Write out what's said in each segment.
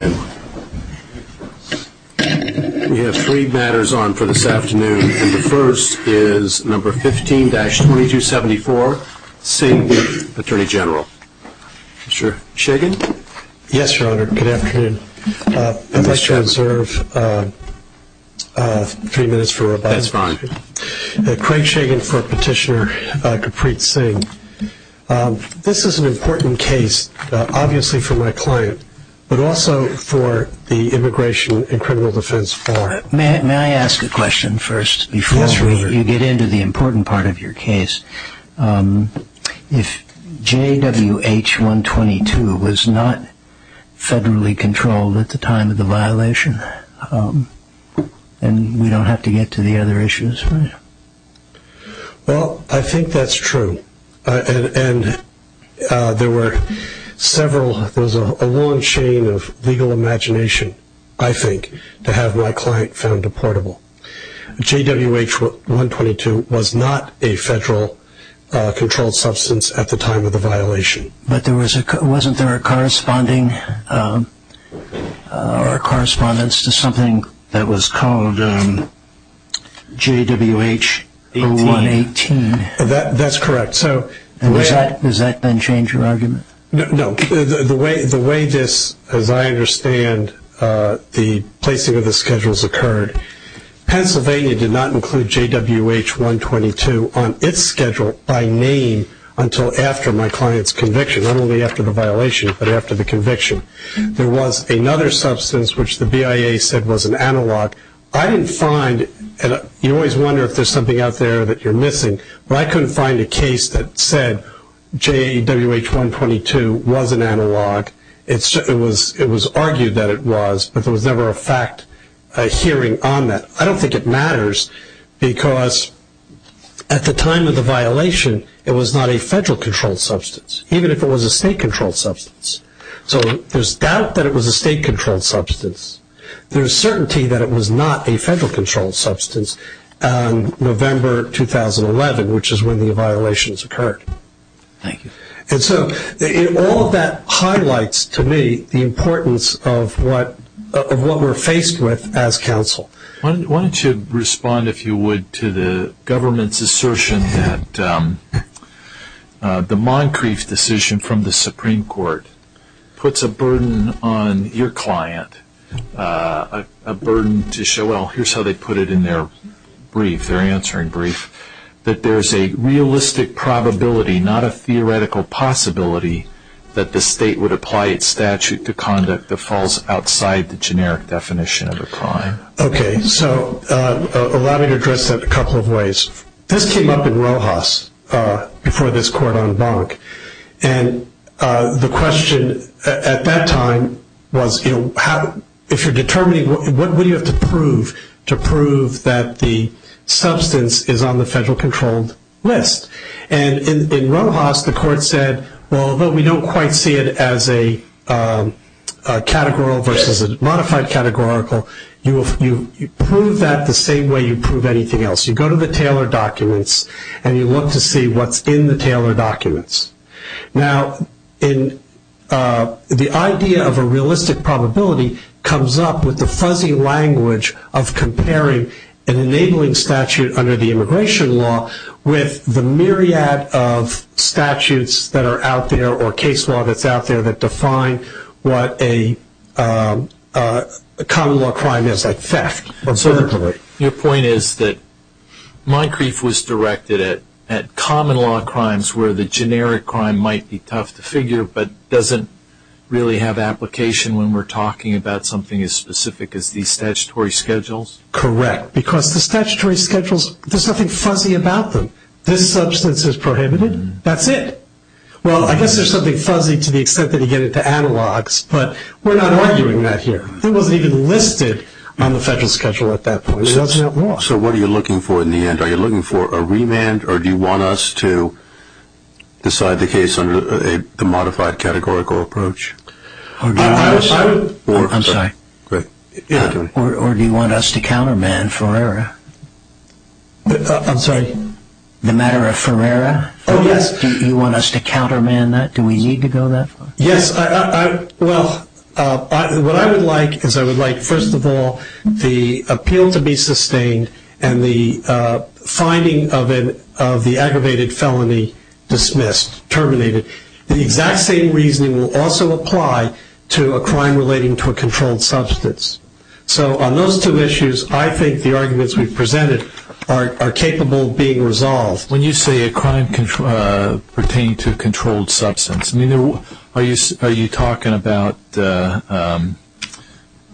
We have three matters on for this afternoon, and the first is number 15-2274, Singh v. Attorney General. Mr. Shagan? Yes, Your Honor. Good afternoon. I'd like to reserve three minutes for a bite. That's fine. Craig Shagan for Petitioner Kapreet Singh. This is an important case, obviously for my client, but also for the Immigration and Criminal Defense Forum. May I ask a question first before you get into the important part of your case? If JWH-122 was not federally controlled at the time of the violation, and we don't have to get to the other issues, right? Well, I think that's true, and there were several, there was a long chain of legal imagination, I think, to have my client found deportable. JWH-122 was not a federal controlled substance at the time of the violation. But wasn't there a correspondence to something that was called JWH-0118? That's correct. Does that change your argument? No. The way this, as I understand, the placing of the schedules occurred, Pennsylvania did not include JWH-122 on its schedule by name until after my client's conviction, not only after the violation, but after the conviction. There was another substance, which the BIA said was an analog. I didn't find, and you always wonder if there's something out there that you're missing, but I couldn't find a case that said JWH-122 was an analog. It was argued that it was, but there was never a fact hearing on that. I don't think it matters because at the time of the violation, it was not a federal controlled substance, even if it was a state controlled substance. So there's doubt that it was a state controlled substance. There's certainty that it was not a federal controlled substance in November 2011, which is when the violations occurred. Thank you. And so all of that highlights to me the importance of what we're faced with as counsel. Why don't you respond, if you would, to the government's assertion that the Moncrief decision from the Supreme Court puts a burden on your client, a burden to show, well, here's how they put it in their brief, their answering brief, that there's a realistic probability, not a theoretical possibility, that the state would apply its statute to conduct that falls outside the generic definition of a crime. Okay, so allow me to address that a couple of ways. This came up in Rojas before this court en banc, and the question at that time was, if you're determining, what would you have to prove to prove that the substance is on the federal controlled list? And in Rojas, the court said, well, although we don't quite see it as a categorical versus a modified categorical, you prove that the same way you prove anything else. You go to the Taylor documents, and you look to see what's in the Taylor documents. Now, the idea of a realistic probability comes up with the fuzzy language of comparing an enabling statute under the immigration law with the myriad of statutes that are out there or case law that's out there that define what a common law crime is, like theft. Your point is that my grief was directed at common law crimes where the generic crime might be tough to figure, but doesn't really have application when we're talking about something as specific as these statutory schedules? Correct, because the statutory schedules, there's nothing fuzzy about them. This substance is prohibited. That's it. Well, I guess there's something fuzzy to the extent that you get to analogs, but we're not arguing that here. It wasn't even listed on the federal schedule at that point. It wasn't at law. So what are you looking for in the end? Are you looking for a remand, or do you want us to decide the case under the modified categorical approach? I'm sorry. Great. Or do you want us to counterman Ferrera? I'm sorry? The matter of Ferrera? Oh, yes. Do you want us to counterman that? Do we need to go that far? Yes. Well, what I would like is I would like, first of all, the appeal to be sustained and the finding of the aggravated felony dismissed, terminated. The exact same reasoning will also apply to a crime relating to a controlled substance. So on those two issues, I think the arguments we've presented are capable of being resolved. When you say a crime pertaining to a controlled substance, are you talking about the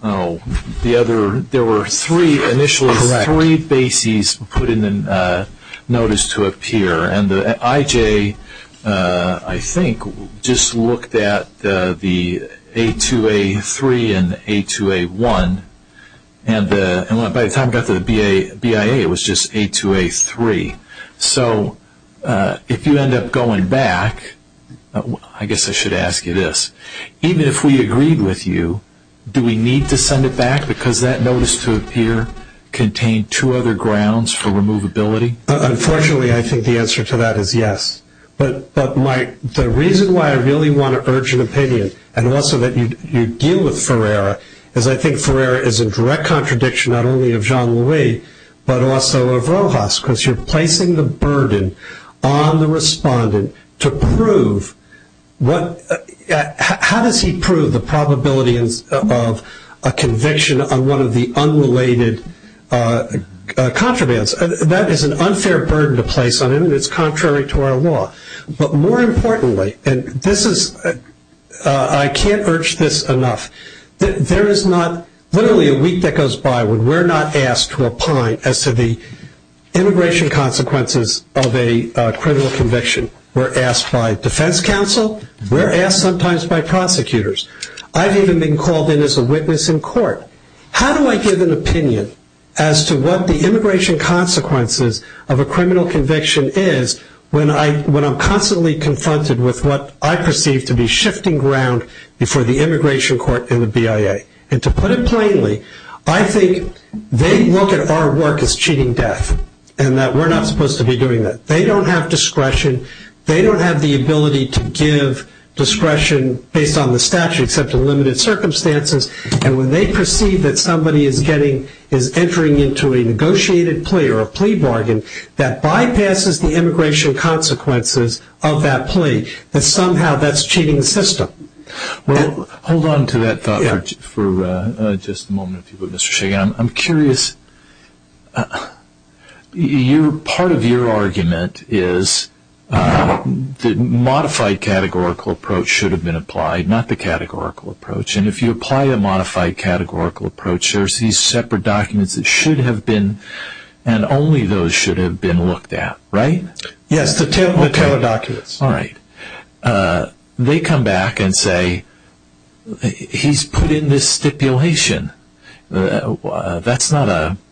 other – there were initially three bases put in the notice to appear, and the IJ, I think, just looked at the A2A3 and the A2A1, and by the time it got to the BIA, it was just A2A3. So if you end up going back, I guess I should ask you this. Even if we agreed with you, do we need to send it back because that notice to appear contained two other grounds for removability? Unfortunately, I think the answer to that is yes. But the reason why I really want to urge an opinion, and also that you deal with Ferrera, is I think Ferrera is a direct contradiction not only of Jean-Louis, but also of Rojas, because you're placing the burden on the respondent to prove – how does he prove the probability of a conviction on one of the unrelated contrabands? That is an unfair burden to place on him, and it's contrary to our law. But more importantly, and this is – I can't urge this enough. There is not – literally a week that goes by when we're not asked to opine as to the immigration consequences of a criminal conviction. We're asked by defense counsel. We're asked sometimes by prosecutors. I've even been called in as a witness in court. How do I give an opinion as to what the immigration consequences of a criminal conviction is when I'm constantly confronted with what I perceive to be shifting ground before the immigration court and the To put it plainly, I think they look at our work as cheating death and that we're not supposed to be doing that. They don't have discretion. They don't have the ability to give discretion based on the statute except in limited circumstances. And when they perceive that somebody is getting – is entering into a negotiated plea or a plea bargain that bypasses the immigration consequences of that plea, that somehow that's cheating the system. Well, hold on to that thought for just a moment if you would Mr. Shagan. I'm curious – part of your argument is the modified categorical approach should have been applied, not the categorical approach. And if you apply a modified categorical approach, there's these separate documents that should have been – and only those should have been looked at, right? Yes, the tailored documents. All right. They come back and say, he's put in this stipulation. That's not a –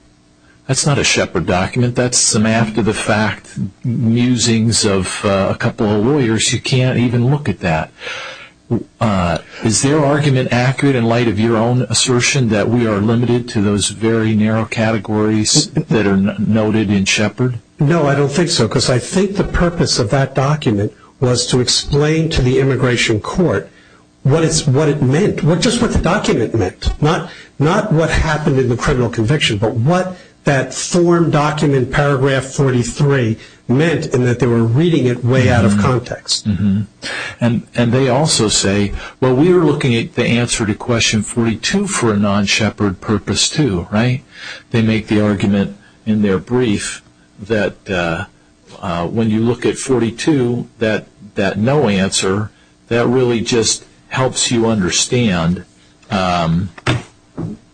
that's not a Shepard document. That's some after the fact musings of a couple of lawyers. You can't even look at that. Is their argument accurate in light of your own assertion that we are limited to those very narrow categories that are noted in Shepard? No, I don't think so. Because I think the purpose of that document was to explain to the immigration court what it meant, just what the document meant. Not what happened in the criminal conviction, but what that form document paragraph 43 meant and that they were reading it way out of context. And they also say, well, we are looking at the answer to question 42 for a non-Shepard purpose too, right? They make the argument in their brief that when you look at 42, that no answer, that really just helps you understand –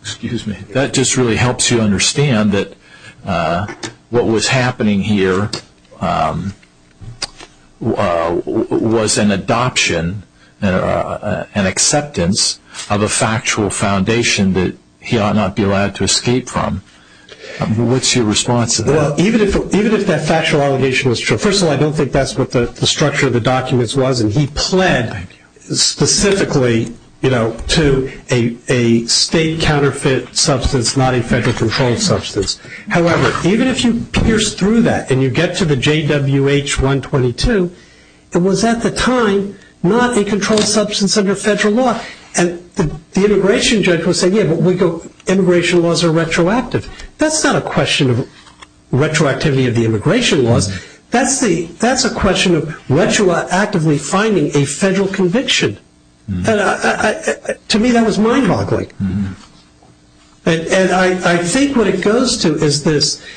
excuse me – that just really helps you understand that what was happening here was an adoption, an acceptance of a factual foundation that he ought not be allowed to escape from. What's your response to that? Well, even if that factual allegation was true, first of all, I don't think that's what the structure of the documents was. And he pled specifically to a state counterfeit substance, not a federal controlled substance. However, even if you pierce through that and you get to the JWH 122, it was at the time not a controlled substance under federal law. And the immigration judge would say, yeah, but immigration laws are retroactive. That's not a question of retroactivity of the immigration laws. That's a question of retroactively finding a federal conviction. To me, that was mind-boggling. And I think what it goes to is this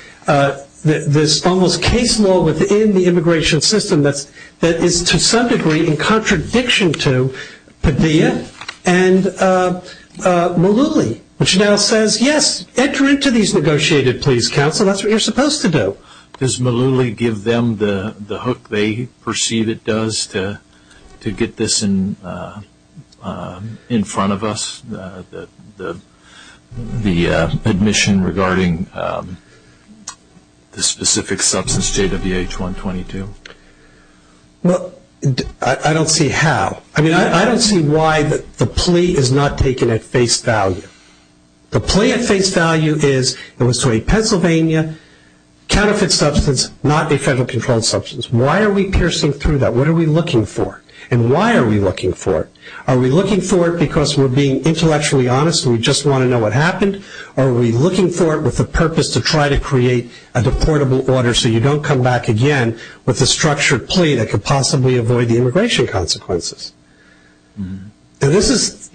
almost case law within the immigration system that is to some degree in contradiction to Padilla and Malouli, which now says, yes, enter into these negotiated pleas, counsel. That's what you're supposed to do. Does Malouli give them the hook they perceive it does to get this in front of us, the admission regarding the specific substance, JWH 122? Well, I don't see how. I mean, I don't see why the plea is not taken at face value. The plea at face value is it was to a Pennsylvania counterfeit substance, not a federal controlled substance. Why are we piercing through that? What are we looking for? And why are we looking for it? Are we looking for it because we're being intellectually honest and we just want to know what happened? Or are we looking for it with the purpose to try to create a deportable order so you don't come back again with a structured plea that could possibly avoid the immigration consequences? And this is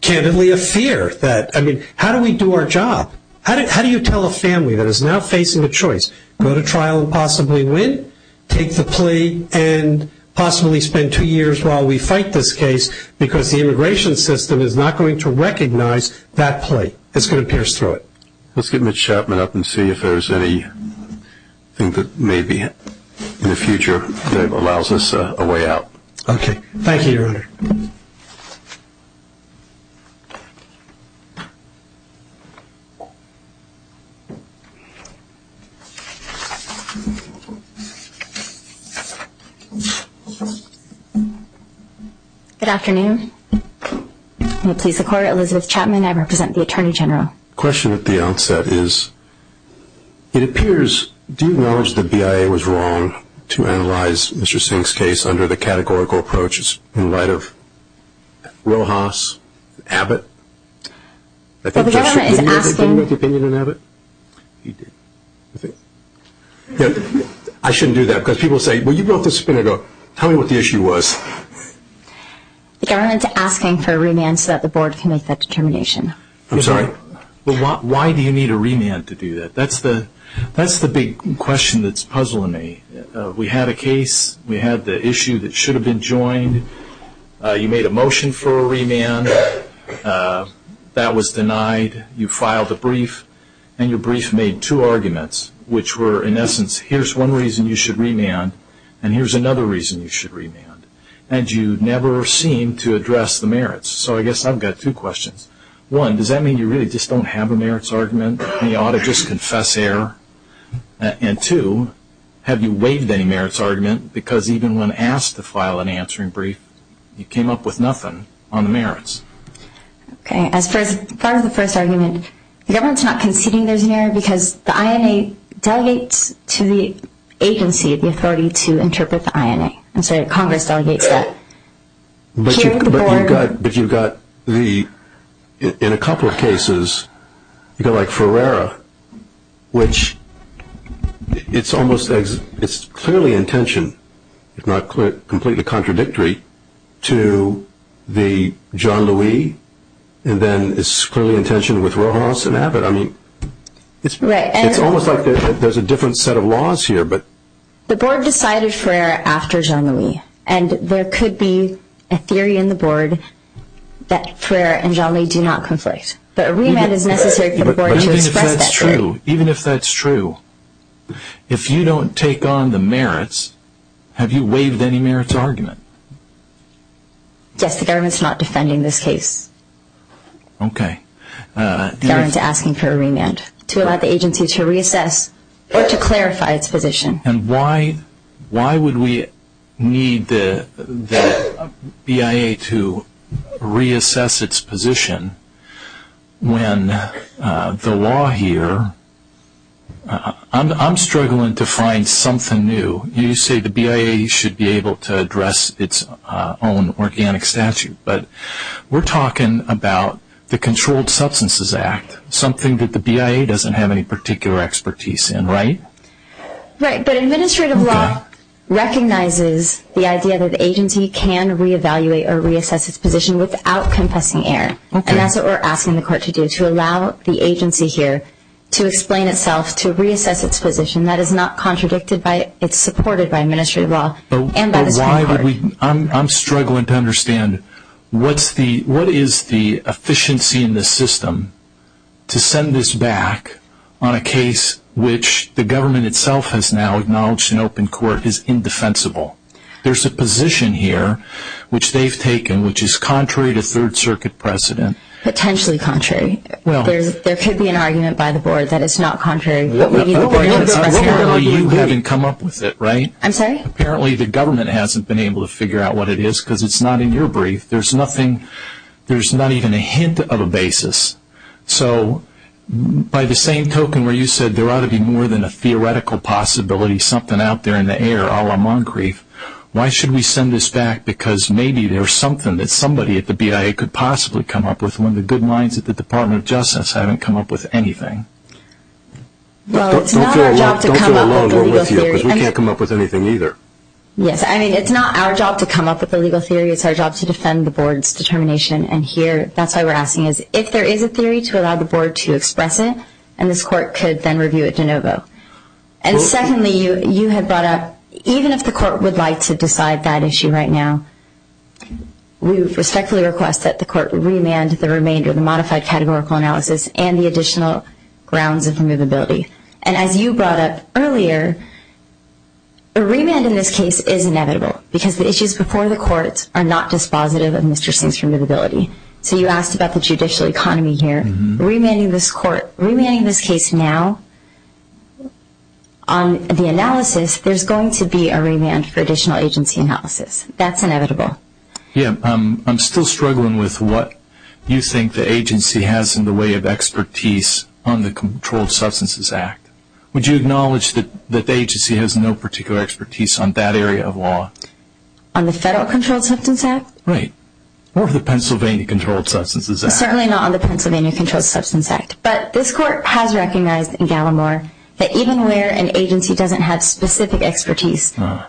candidly a fear that, I mean, how do we do our job? How do you tell a family that is now facing a choice? Go to trial and possibly win? Take the plea and possibly spend two years while we fight this case because the immigration system is not going to recognize that plea. It's going to pierce through it. Let's get Mitch Chapman up and see if there's anything that maybe in the future that allows us a way out. Okay. Thank you, Your Honor. Good afternoon. May it please the Court, Elizabeth Chapman, I represent the Attorney General. The question at the outset is, it appears, do you acknowledge that the BIA was wrong to analyze Mr. Singh's case under the categorical approaches in light of Rojas, Abbott? The government is asking... I think you should give me the opinion on Abbott. I shouldn't do that because people say, well, you brought this up a minute ago. Tell me what the issue was. The government is asking for a remand so that the Board can make that determination. I'm sorry? Why do you need a remand to do that? That's the big question that's puzzling me. We had a case. We had the issue that should have been joined. You made a motion for a remand. That was denied. You filed a brief and your brief made two arguments which were, in essence, here's one reason you should remand and here's another reason you should remand. And you never seem to address the merits. So I guess I've got two questions. One, does that mean you really just don't have a merits argument and you ought to just confess error? And two, have you waived any merits argument because even when asked to file an answering brief, you came up with nothing on the merits? As far as the first argument, the government's not conceding there's an error because the INA delegates to the agency the authority to interpret the INA. I'm sorry, Congress delegates that. But you've got the, in a couple of cases, you've got like Ferreira, which it's almost it's clearly in tension, if not completely contradictory to the Jean-Louis and then it's clearly in tension with Rojas and Abbott. I mean, it's almost like there's a different set of laws here. The board decided Ferreira after Jean-Louis and there could be a theory in the board that Ferreira and Jean-Louis do not conflict. But a remand is necessary for the board to express that theory. But even if that's true, even if that's true, if you don't take on the merits, have you waived any merits argument? Yes, the government's not defending this case. Okay. The government's asking for a remand to allow the agency to reassess or to clarify its position. And why would we need the BIA to reassess its position when the law here, I'm struggling to find something new. You say the BIA should be able to address its own organic statute. But we're talking about the Controlled Substances Act, something that the BIA doesn't have any particular expertise in, right? Right, but administrative law recognizes the idea that the agency can re-evaluate or reassess its position without confessing error. And that's what we're asking the court to do, to allow the agency here to explain itself, to reassess its position. That is not contradicted by, it's supported by administrative law. But why would we, I'm struggling to understand, what is the efficiency in the system to send this back on a case which the government itself has now acknowledged in open court is indefensible? There's a position here, which they've taken, which is contrary to 3rd Circuit precedent. Potentially contrary. There could be an argument by the board that it's not contrary. Apparently you haven't come up with it, right? I'm sorry? Apparently the government hasn't been able to figure out what it is because it's not in your brief. There's nothing, there's not even a hint of a basis. So, by the same token where you said there ought to be more than a theoretical possibility, something out there in the air, a la Moncrief, why should we send this back because maybe there's something that somebody at the BIA could possibly come up with when the good minds at the Department of Justice haven't come up with anything? Well, it's not our job to come up with a legal theory. Don't feel alone, we're with you, because we can't come up with anything either. Yes, I mean, it's not our job to come up with a legal theory. It's our job to defend the board's determination and here, that's why we're asking is, if there is a theory to allow the board to express it, and this court could then review it de novo. And secondly, you have brought up, even if the court would like to decide that issue right now, we respectfully request that the court remand the remainder, the modified categorical analysis and the additional grounds of removability. And as you brought up earlier, a remand in this case is inevitable, because the issues before the courts are not dispositive of Mr. Singh's removability. So you asked about the judicial economy here. Remanding this court, remanding this case now, on the analysis, there's going to be a remand for additional agency analysis. That's inevitable. Yeah, I'm still struggling with what you think the agency has in the way of expertise on the Controlled Substances Act. Would you acknowledge that the agency has no particular expertise on that area of law? On the Federal Controlled Substances Act? Right. Or the Pennsylvania Controlled Substances Act. Certainly not on the Pennsylvania Controlled Substances Act. But this court has recognized in Gallimore that even where an agency doesn't have specific expertise, the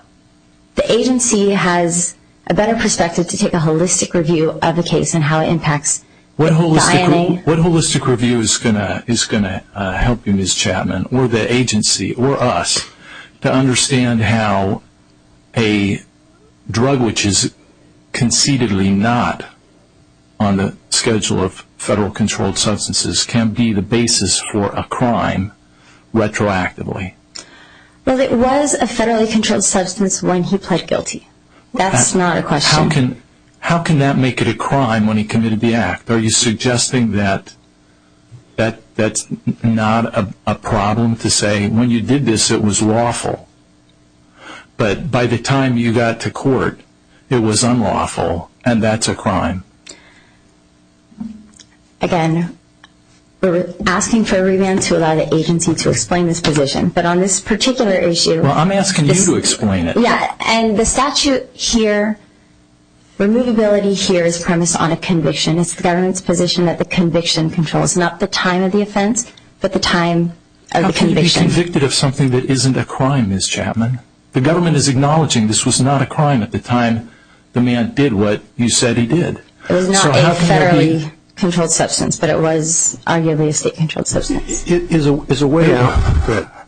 agency has a better perspective to take a holistic review of the case and how it impacts the filing. What holistic review is going to help you, Ms. Chapman, or the agency, or us, to understand how a drug which is concededly not on the schedule of federal controlled substances can be the basis for a crime retroactively? Well, it was a federally controlled substance when he pled guilty. That's not a question. How can that make it a crime when he committed the act? Are you suggesting that that's not a problem to say when you did this it was lawful, but by the time you got to court it was unlawful and that's a crime? Again, we're asking for a revamp to allow the agency to explain this position, but on this particular issue... Well, I'm asking you to explain it. Yeah, and the statute here, removability here is premised on a conviction. It's the government's position that the conviction controls, not the time of the offense, but the time of the conviction. How can you be convicted of something that isn't a crime, Ms. Chapman? The government is acknowledging this was not a crime at the time the man did what you said he did. It was not a federally controlled substance, but it was arguably a state-controlled substance. There's a way that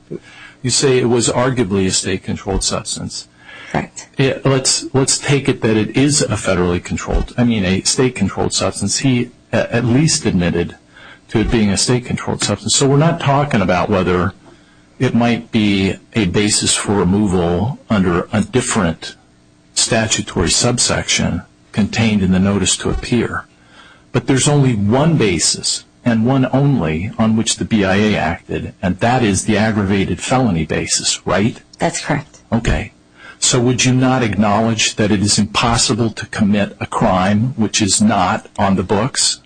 you say it was arguably a state-controlled substance. Correct. Let's take it that it is a state-controlled substance. He at least admitted to it being a state-controlled substance. So we're not talking about whether it might be a basis for removal under a different statutory subsection contained in the notice to appear. But there's only one basis, and one only, on which the BIA acted, and that is the aggravated felony basis, right? That's correct. Okay. So would you not acknowledge that it is impossible to commit a crime which is not on the books?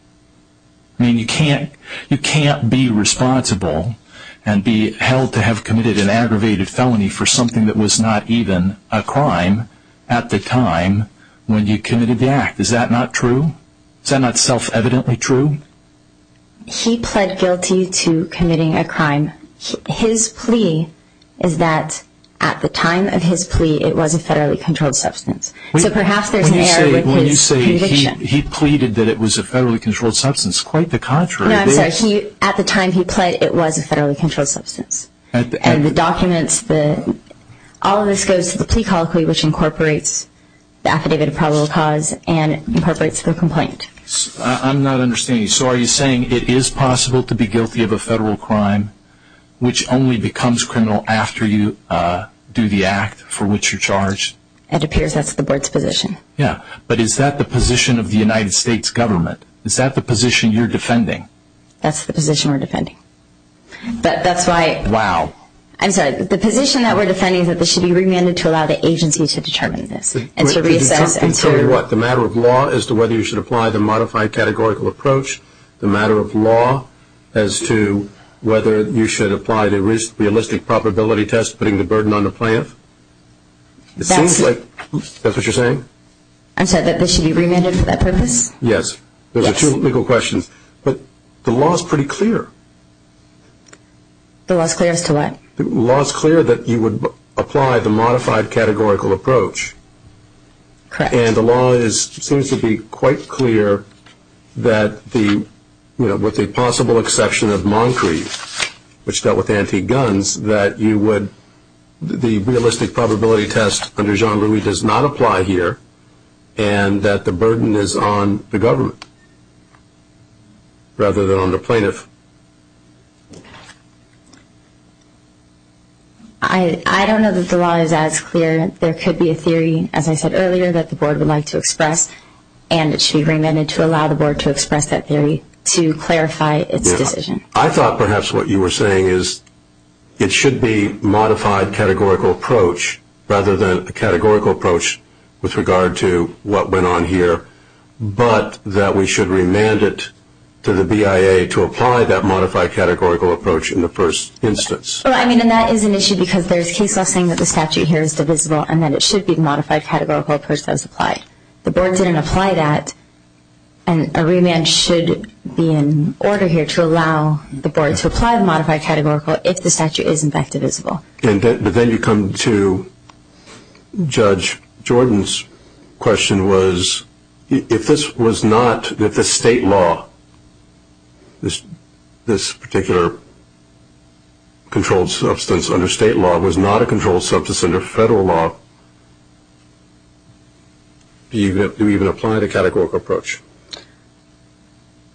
I mean, you can't be responsible and be held to have committed an aggravated felony for something that was not even a crime at the time when you committed the act. Is that not true? Is that not self-evidently true? He pled guilty to committing a crime. His plea is that at the time of his plea, it was a federally controlled substance. So perhaps there's an error with his conviction. When you say he pleaded that it was a federally controlled substance, quite the contrary. No, I'm sorry. At the time he pled, it was a federally controlled substance. And the documents, all of this goes to the plea colloquy, which incorporates the affidavit of probable cause and incorporates the complaint. I'm not understanding you. So are you saying it is possible to be guilty of a federal crime which only becomes criminal after you do the act for which you're charged? It appears that's the board's position. Yeah, but is that the position of the United States government? That's the position we're defending. But that's why… Wow. I'm sorry. The position that we're defending is that this should be remanded to allow the agency to determine this and to reassess… To determine what? The matter of law as to whether you should apply the modified categorical approach? The matter of law as to whether you should apply the realistic probability test putting the burden on the plaintiff? It seems like… That's… That's what you're saying? I'm sorry. That this should be remanded for that purpose? Yes. Yes. Those are two legal questions. But the law is pretty clear. The law is clear as to what? The law is clear that you would apply the modified categorical approach. Correct. And the law seems to be quite clear that with the possible exception of Moncrief, which dealt with antique guns, that you would… The realistic probability test under Jean-Louis does not apply here and that the burden is on the government. Rather than on the plaintiff. I don't know that the law is as clear. There could be a theory, as I said earlier, that the board would like to express and it should be remanded to allow the board to express that theory to clarify its decision. I thought perhaps what you were saying is it should be modified categorical approach rather than a categorical approach with regard to what went on here but that we should remand it to the BIA to apply that modified categorical approach in the first instance. Well, I mean, and that is an issue because there is case law saying that the statute here is divisible and that it should be the modified categorical approach that was applied. The board didn't apply that and a remand should be in order here to allow the board to apply the modified categorical if the statute is in fact divisible. But then you come to Judge Jordan's question was if this was not, if the state law, this particular controlled substance under state law was not a controlled substance under federal law, do you even apply the categorical approach?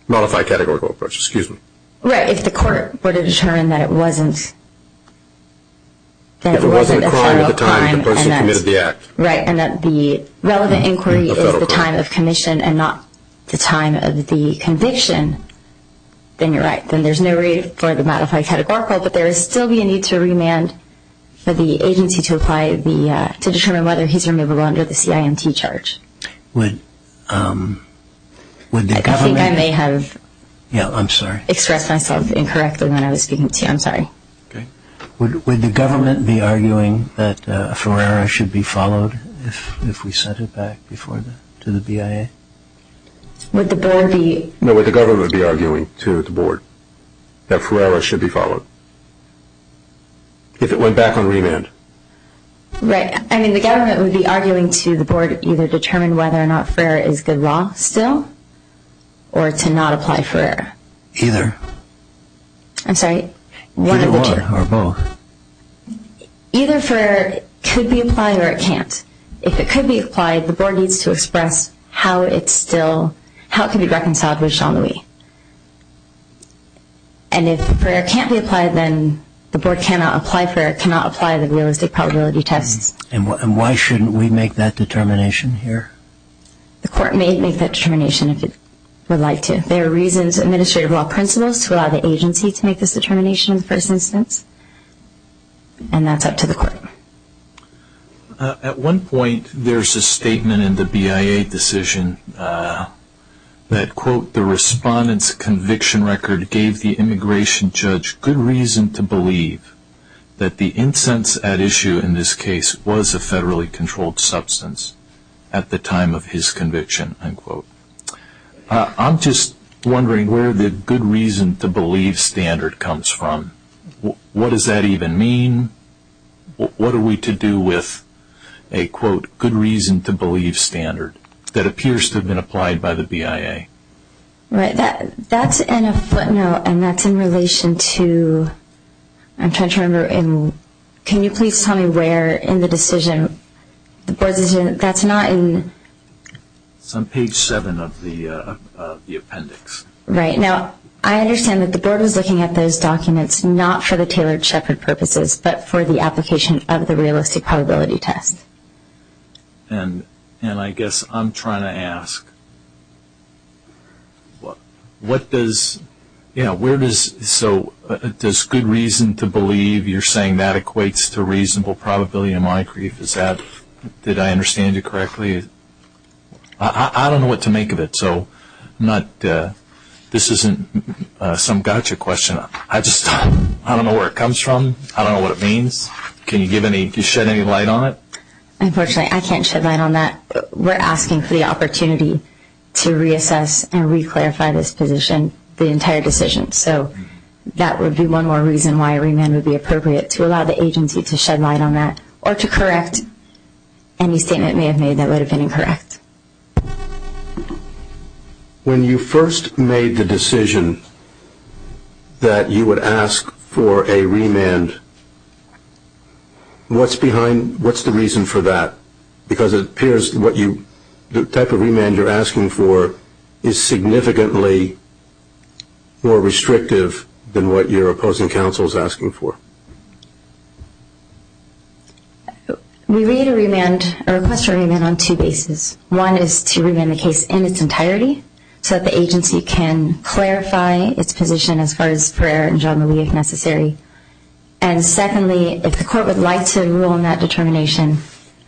Modified categorical approach, excuse me. Right, if the court were to determine that it wasn't that it wasn't a federal crime and that the relevant inquiry is the time of commission and not the time of the conviction, then you're right. Then there's no reason for the modified categorical but there would still be a need to remand for the agency to apply the, to determine whether he's removable under the CIMT charge. Would the government... I think I may have... Yeah, I'm sorry. ...expressed myself incorrectly when I was speaking to you. I'm sorry. Okay. Would the government be arguing that a Ferrara should be followed if we sent it back before the, to the BIA? Would the board be... No, would the government be arguing to the board that Ferrara should be followed? If it went back on remand. Right. I mean, the government would be arguing to the board either determine whether or not Ferrara is good law still or to not apply Ferrara. Either. I'm sorry. One of the two. Good law or both. Either Ferrara could be applied or it can't. If it could be applied, the board needs to express how it's still, how it can be reconciled with Jean Louis. And if Ferrara can't be applied, then the board cannot apply Ferrara, cannot apply the realistic probability tests. And why shouldn't we make that determination here? The court may make that determination if it would like to. There are reasons, administrative law principles, to allow the agency to make this determination in the first instance. And that's up to the court. At one point, there's a statement in the BIA decision that, quote, the respondent's conviction record gave the immigration judge good reason to believe that the incense at issue in this case was a federally controlled substance at the time of his conviction, unquote. I'm just wondering where the good reason to believe standard comes from. What does that even mean? What are we to do with a, quote, good reason to believe standard that appears to have been applied by the BIA? Right, that's in a footnote and that's in relation to, I'm trying to remember, can you please tell me where in the decision, that's not in... It's on page 7 of the appendix. Right, now, I understand that the board was looking at those documents, not for the tailored shepherd purposes, but for the application of the realistic probability test. And I guess I'm trying to ask, what does, you know, where does, so does good reason to believe, you're saying that equates to reasonable probability in Montecrief, is that, did I understand you correctly? I don't know what to make of it, so I'm not, this isn't some gotcha question. I just, I don't know where it comes from, I don't know what it means. Can you shed any light on it? Unfortunately, I can't shed light on that. We're asking for the opportunity to reassess and re-clarify this position, the entire decision. So, that would be one more reason why remand would be appropriate, to allow the agency to shed light on that, or to correct any statement they have made that would have been incorrect. When you first made the decision that you would ask for a remand, what's behind, what's the reason for that? Because it appears what you, the type of remand you're asking for is significantly more restrictive than what your opposing counsel is asking for. We read a remand, a request for a remand on two bases. One is to remand the case in its entirety, so that the agency can clarify its position as far as Ferrer and Jean-Louis, if necessary. And secondly, if the court would like to rule on that determination,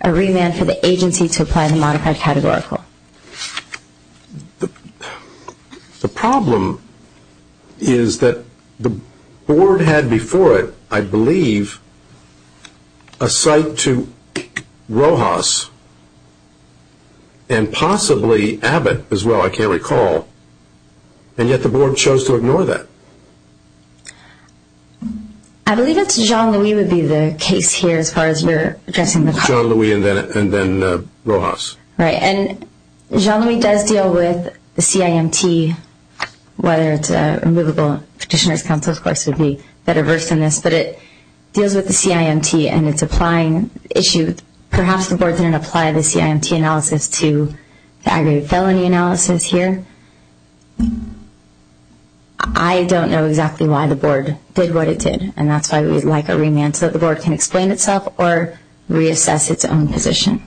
a remand for the agency to apply the modified categorical. The problem is that the board had before it, I believe, a cite to Rojas, and possibly Abbott as well, I can't recall, and yet the board chose to ignore that. I believe it's Jean-Louis would be the case here as far as you're addressing the problem. Jean-Louis and then Rojas. Right, and Jean-Louis does deal with the CIMT, whether it's a removable petitioner's counsel, of course, would be better versed in this, but it deals with the CIMT and its applying issue. Perhaps the board didn't apply the CIMT analysis to the aggravated felony analysis here. I don't know exactly why the board did what it did, and that's why we'd like a remand, so that the board can explain itself or reassess its own position.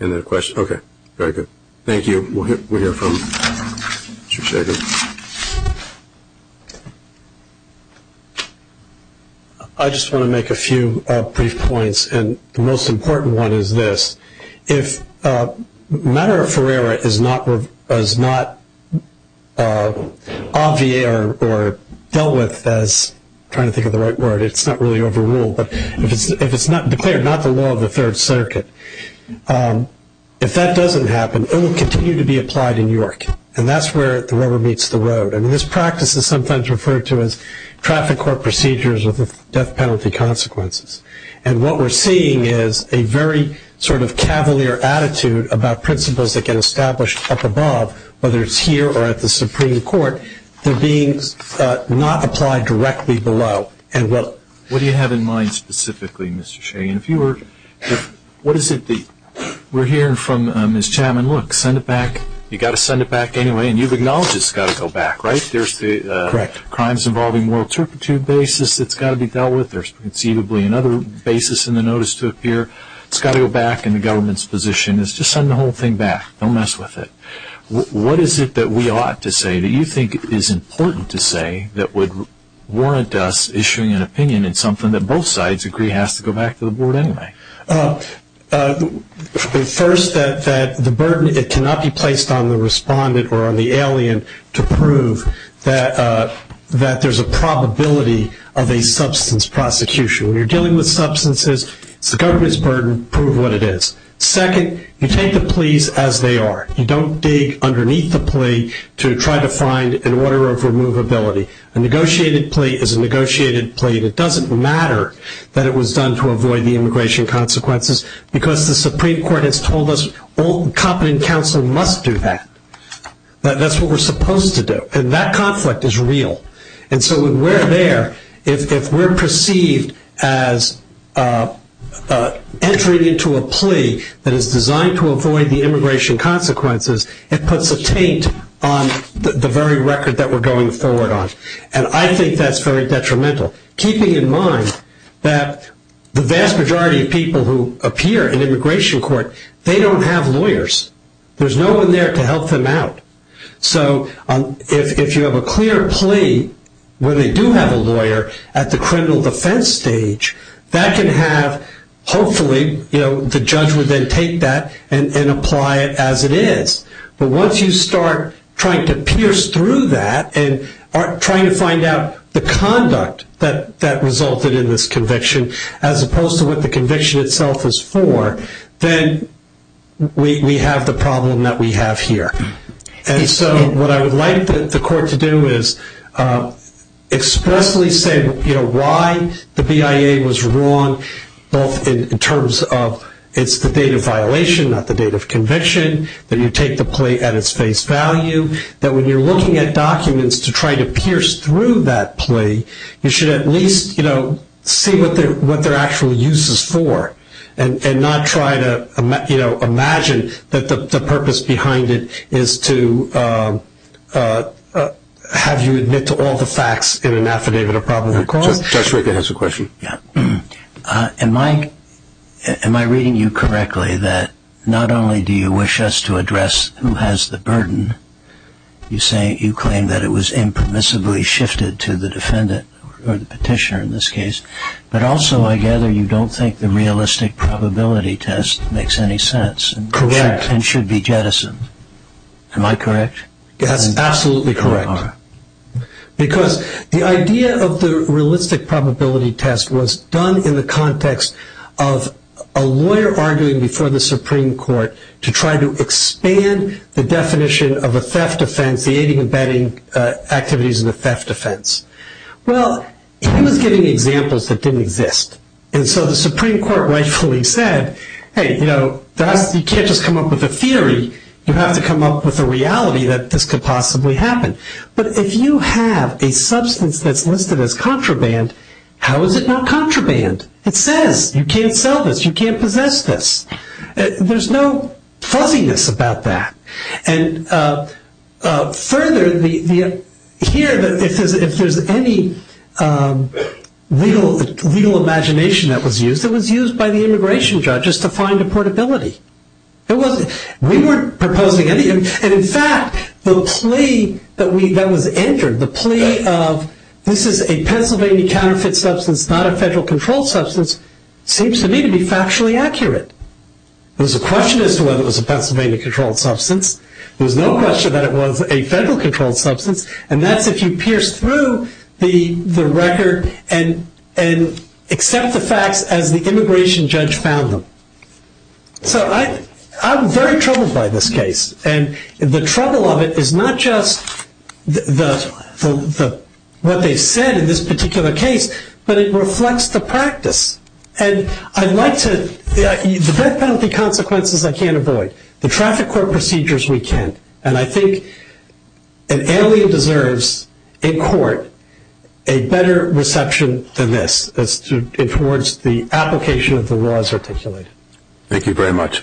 Any other questions? Okay, very good. Thank you. We'll hear from you in just a second. I just want to make a few brief points, and the most important one is this. If a matter of Ferreira is not obviate or dealt with, as I'm trying to think of the right word, it's not really overruled, but if it's declared not the law of the Third Circuit, if that doesn't happen, it will continue to be applied in York, and that's where the rubber meets the road. This practice is sometimes referred to as traffic court procedures with death penalty consequences, and what we're seeing is a very cavalier attitude about principles that get established up above, whether it's here or at the Supreme Court, they're being not applied directly below. What do you have in mind specifically, Mr. Shea? We're hearing from Ms. Chaman, look, you've got to send it back anyway, and you've acknowledged it's got to go back, right? There's the crimes involving moral turpitude basis that's got to be dealt with, there's conceivably another basis in the notice to appear, it's got to go back, and the government's position is just send the whole thing back, don't mess with it. What is it that we ought to say that you think is important to say that would warrant us issuing an opinion in something that both sides agree has to go back to the Board anyway? First, that the burden cannot be placed on the respondent or on the alien to prove that there's a probability of a substance prosecution. When you're dealing with substances, it's the government's burden to prove what it is. Second, you take the pleas as they are. You don't dig underneath the plea to try to find an order of removability. A negotiated plea is a negotiated plea that doesn't matter that it was done to avoid the immigration consequences because the Supreme Court has told us all competent counsel must do that. That's what we're supposed to do, and that conflict is real. And so when we're there, if we're perceived as entering into a plea that is designed to avoid the immigration consequences, it puts a taint on the very record that we're going forward on. And I think that's very detrimental, keeping in mind that the vast majority of people who appear in immigration court, they don't have lawyers. There's no one there to help them out. So if you have a clear plea where they do have a lawyer at the criminal defense stage, that can have, hopefully, the judge would then take that and apply it as it is. But once you start trying to pierce through that and trying to find out the conduct that resulted in this conviction as opposed to what the conviction itself is for, then we have the problem that we have here. And so what I would like the court to do is expressly say why the BIA was wrong both in terms of it's the date of violation, not the date of conviction, that you take the plea at its face value, that when you're looking at documents to try to pierce through that plea, you should at least see what their actual use is for and not try to imagine that the purpose behind it is to have you admit to all the facts in an affidavit of probable cause. Judge Rickett has a question. Am I reading you correctly that not only do you wish us to address who has the burden, you claim that it was impermissibly shifted to the defendant or the petitioner in this case, but also I gather you don't think the realistic probability test makes any sense and should be jettisoned. Am I correct? That's absolutely correct. Because the idea of the BIA was done in the context of a lawyer arguing before the Supreme Court to try to expand the definition of a theft offense, the aiding and abetting activities of the theft offense. Well, he was giving examples that didn't exist. And so the Supreme Court rightfully said, hey, you know, you can't just come up with a theory, you have to come up with a reality that this could possibly happen. But if you have a substance that's listed as contraband, how is it not contraband? It says you can't sell this, you can't possess this. There's no fuzziness about that. And further, here if there's any legal imagination that was used, it was used by the immigration judges to find a portability. We weren't proposing any. And in fact, the plea that was entered, the plea of this is a Pennsylvania counterfeit substance, not a federal controlled substance, seems to me to be factually accurate. There was a question as to whether it was a Pennsylvania controlled substance. There was no question that it was a federal controlled substance. And that's if you pierce through the record and accept the facts as the immigration judge found them. So I'm very troubled by this case. And the trouble of it is not just what they said in this particular case, but it reflects the practice. And I'd like to the death penalty consequences I can't avoid. The traffic court procedures we can't. And I think an alien deserves in court a better reception than this towards the application of the laws articulated. Thank you very much.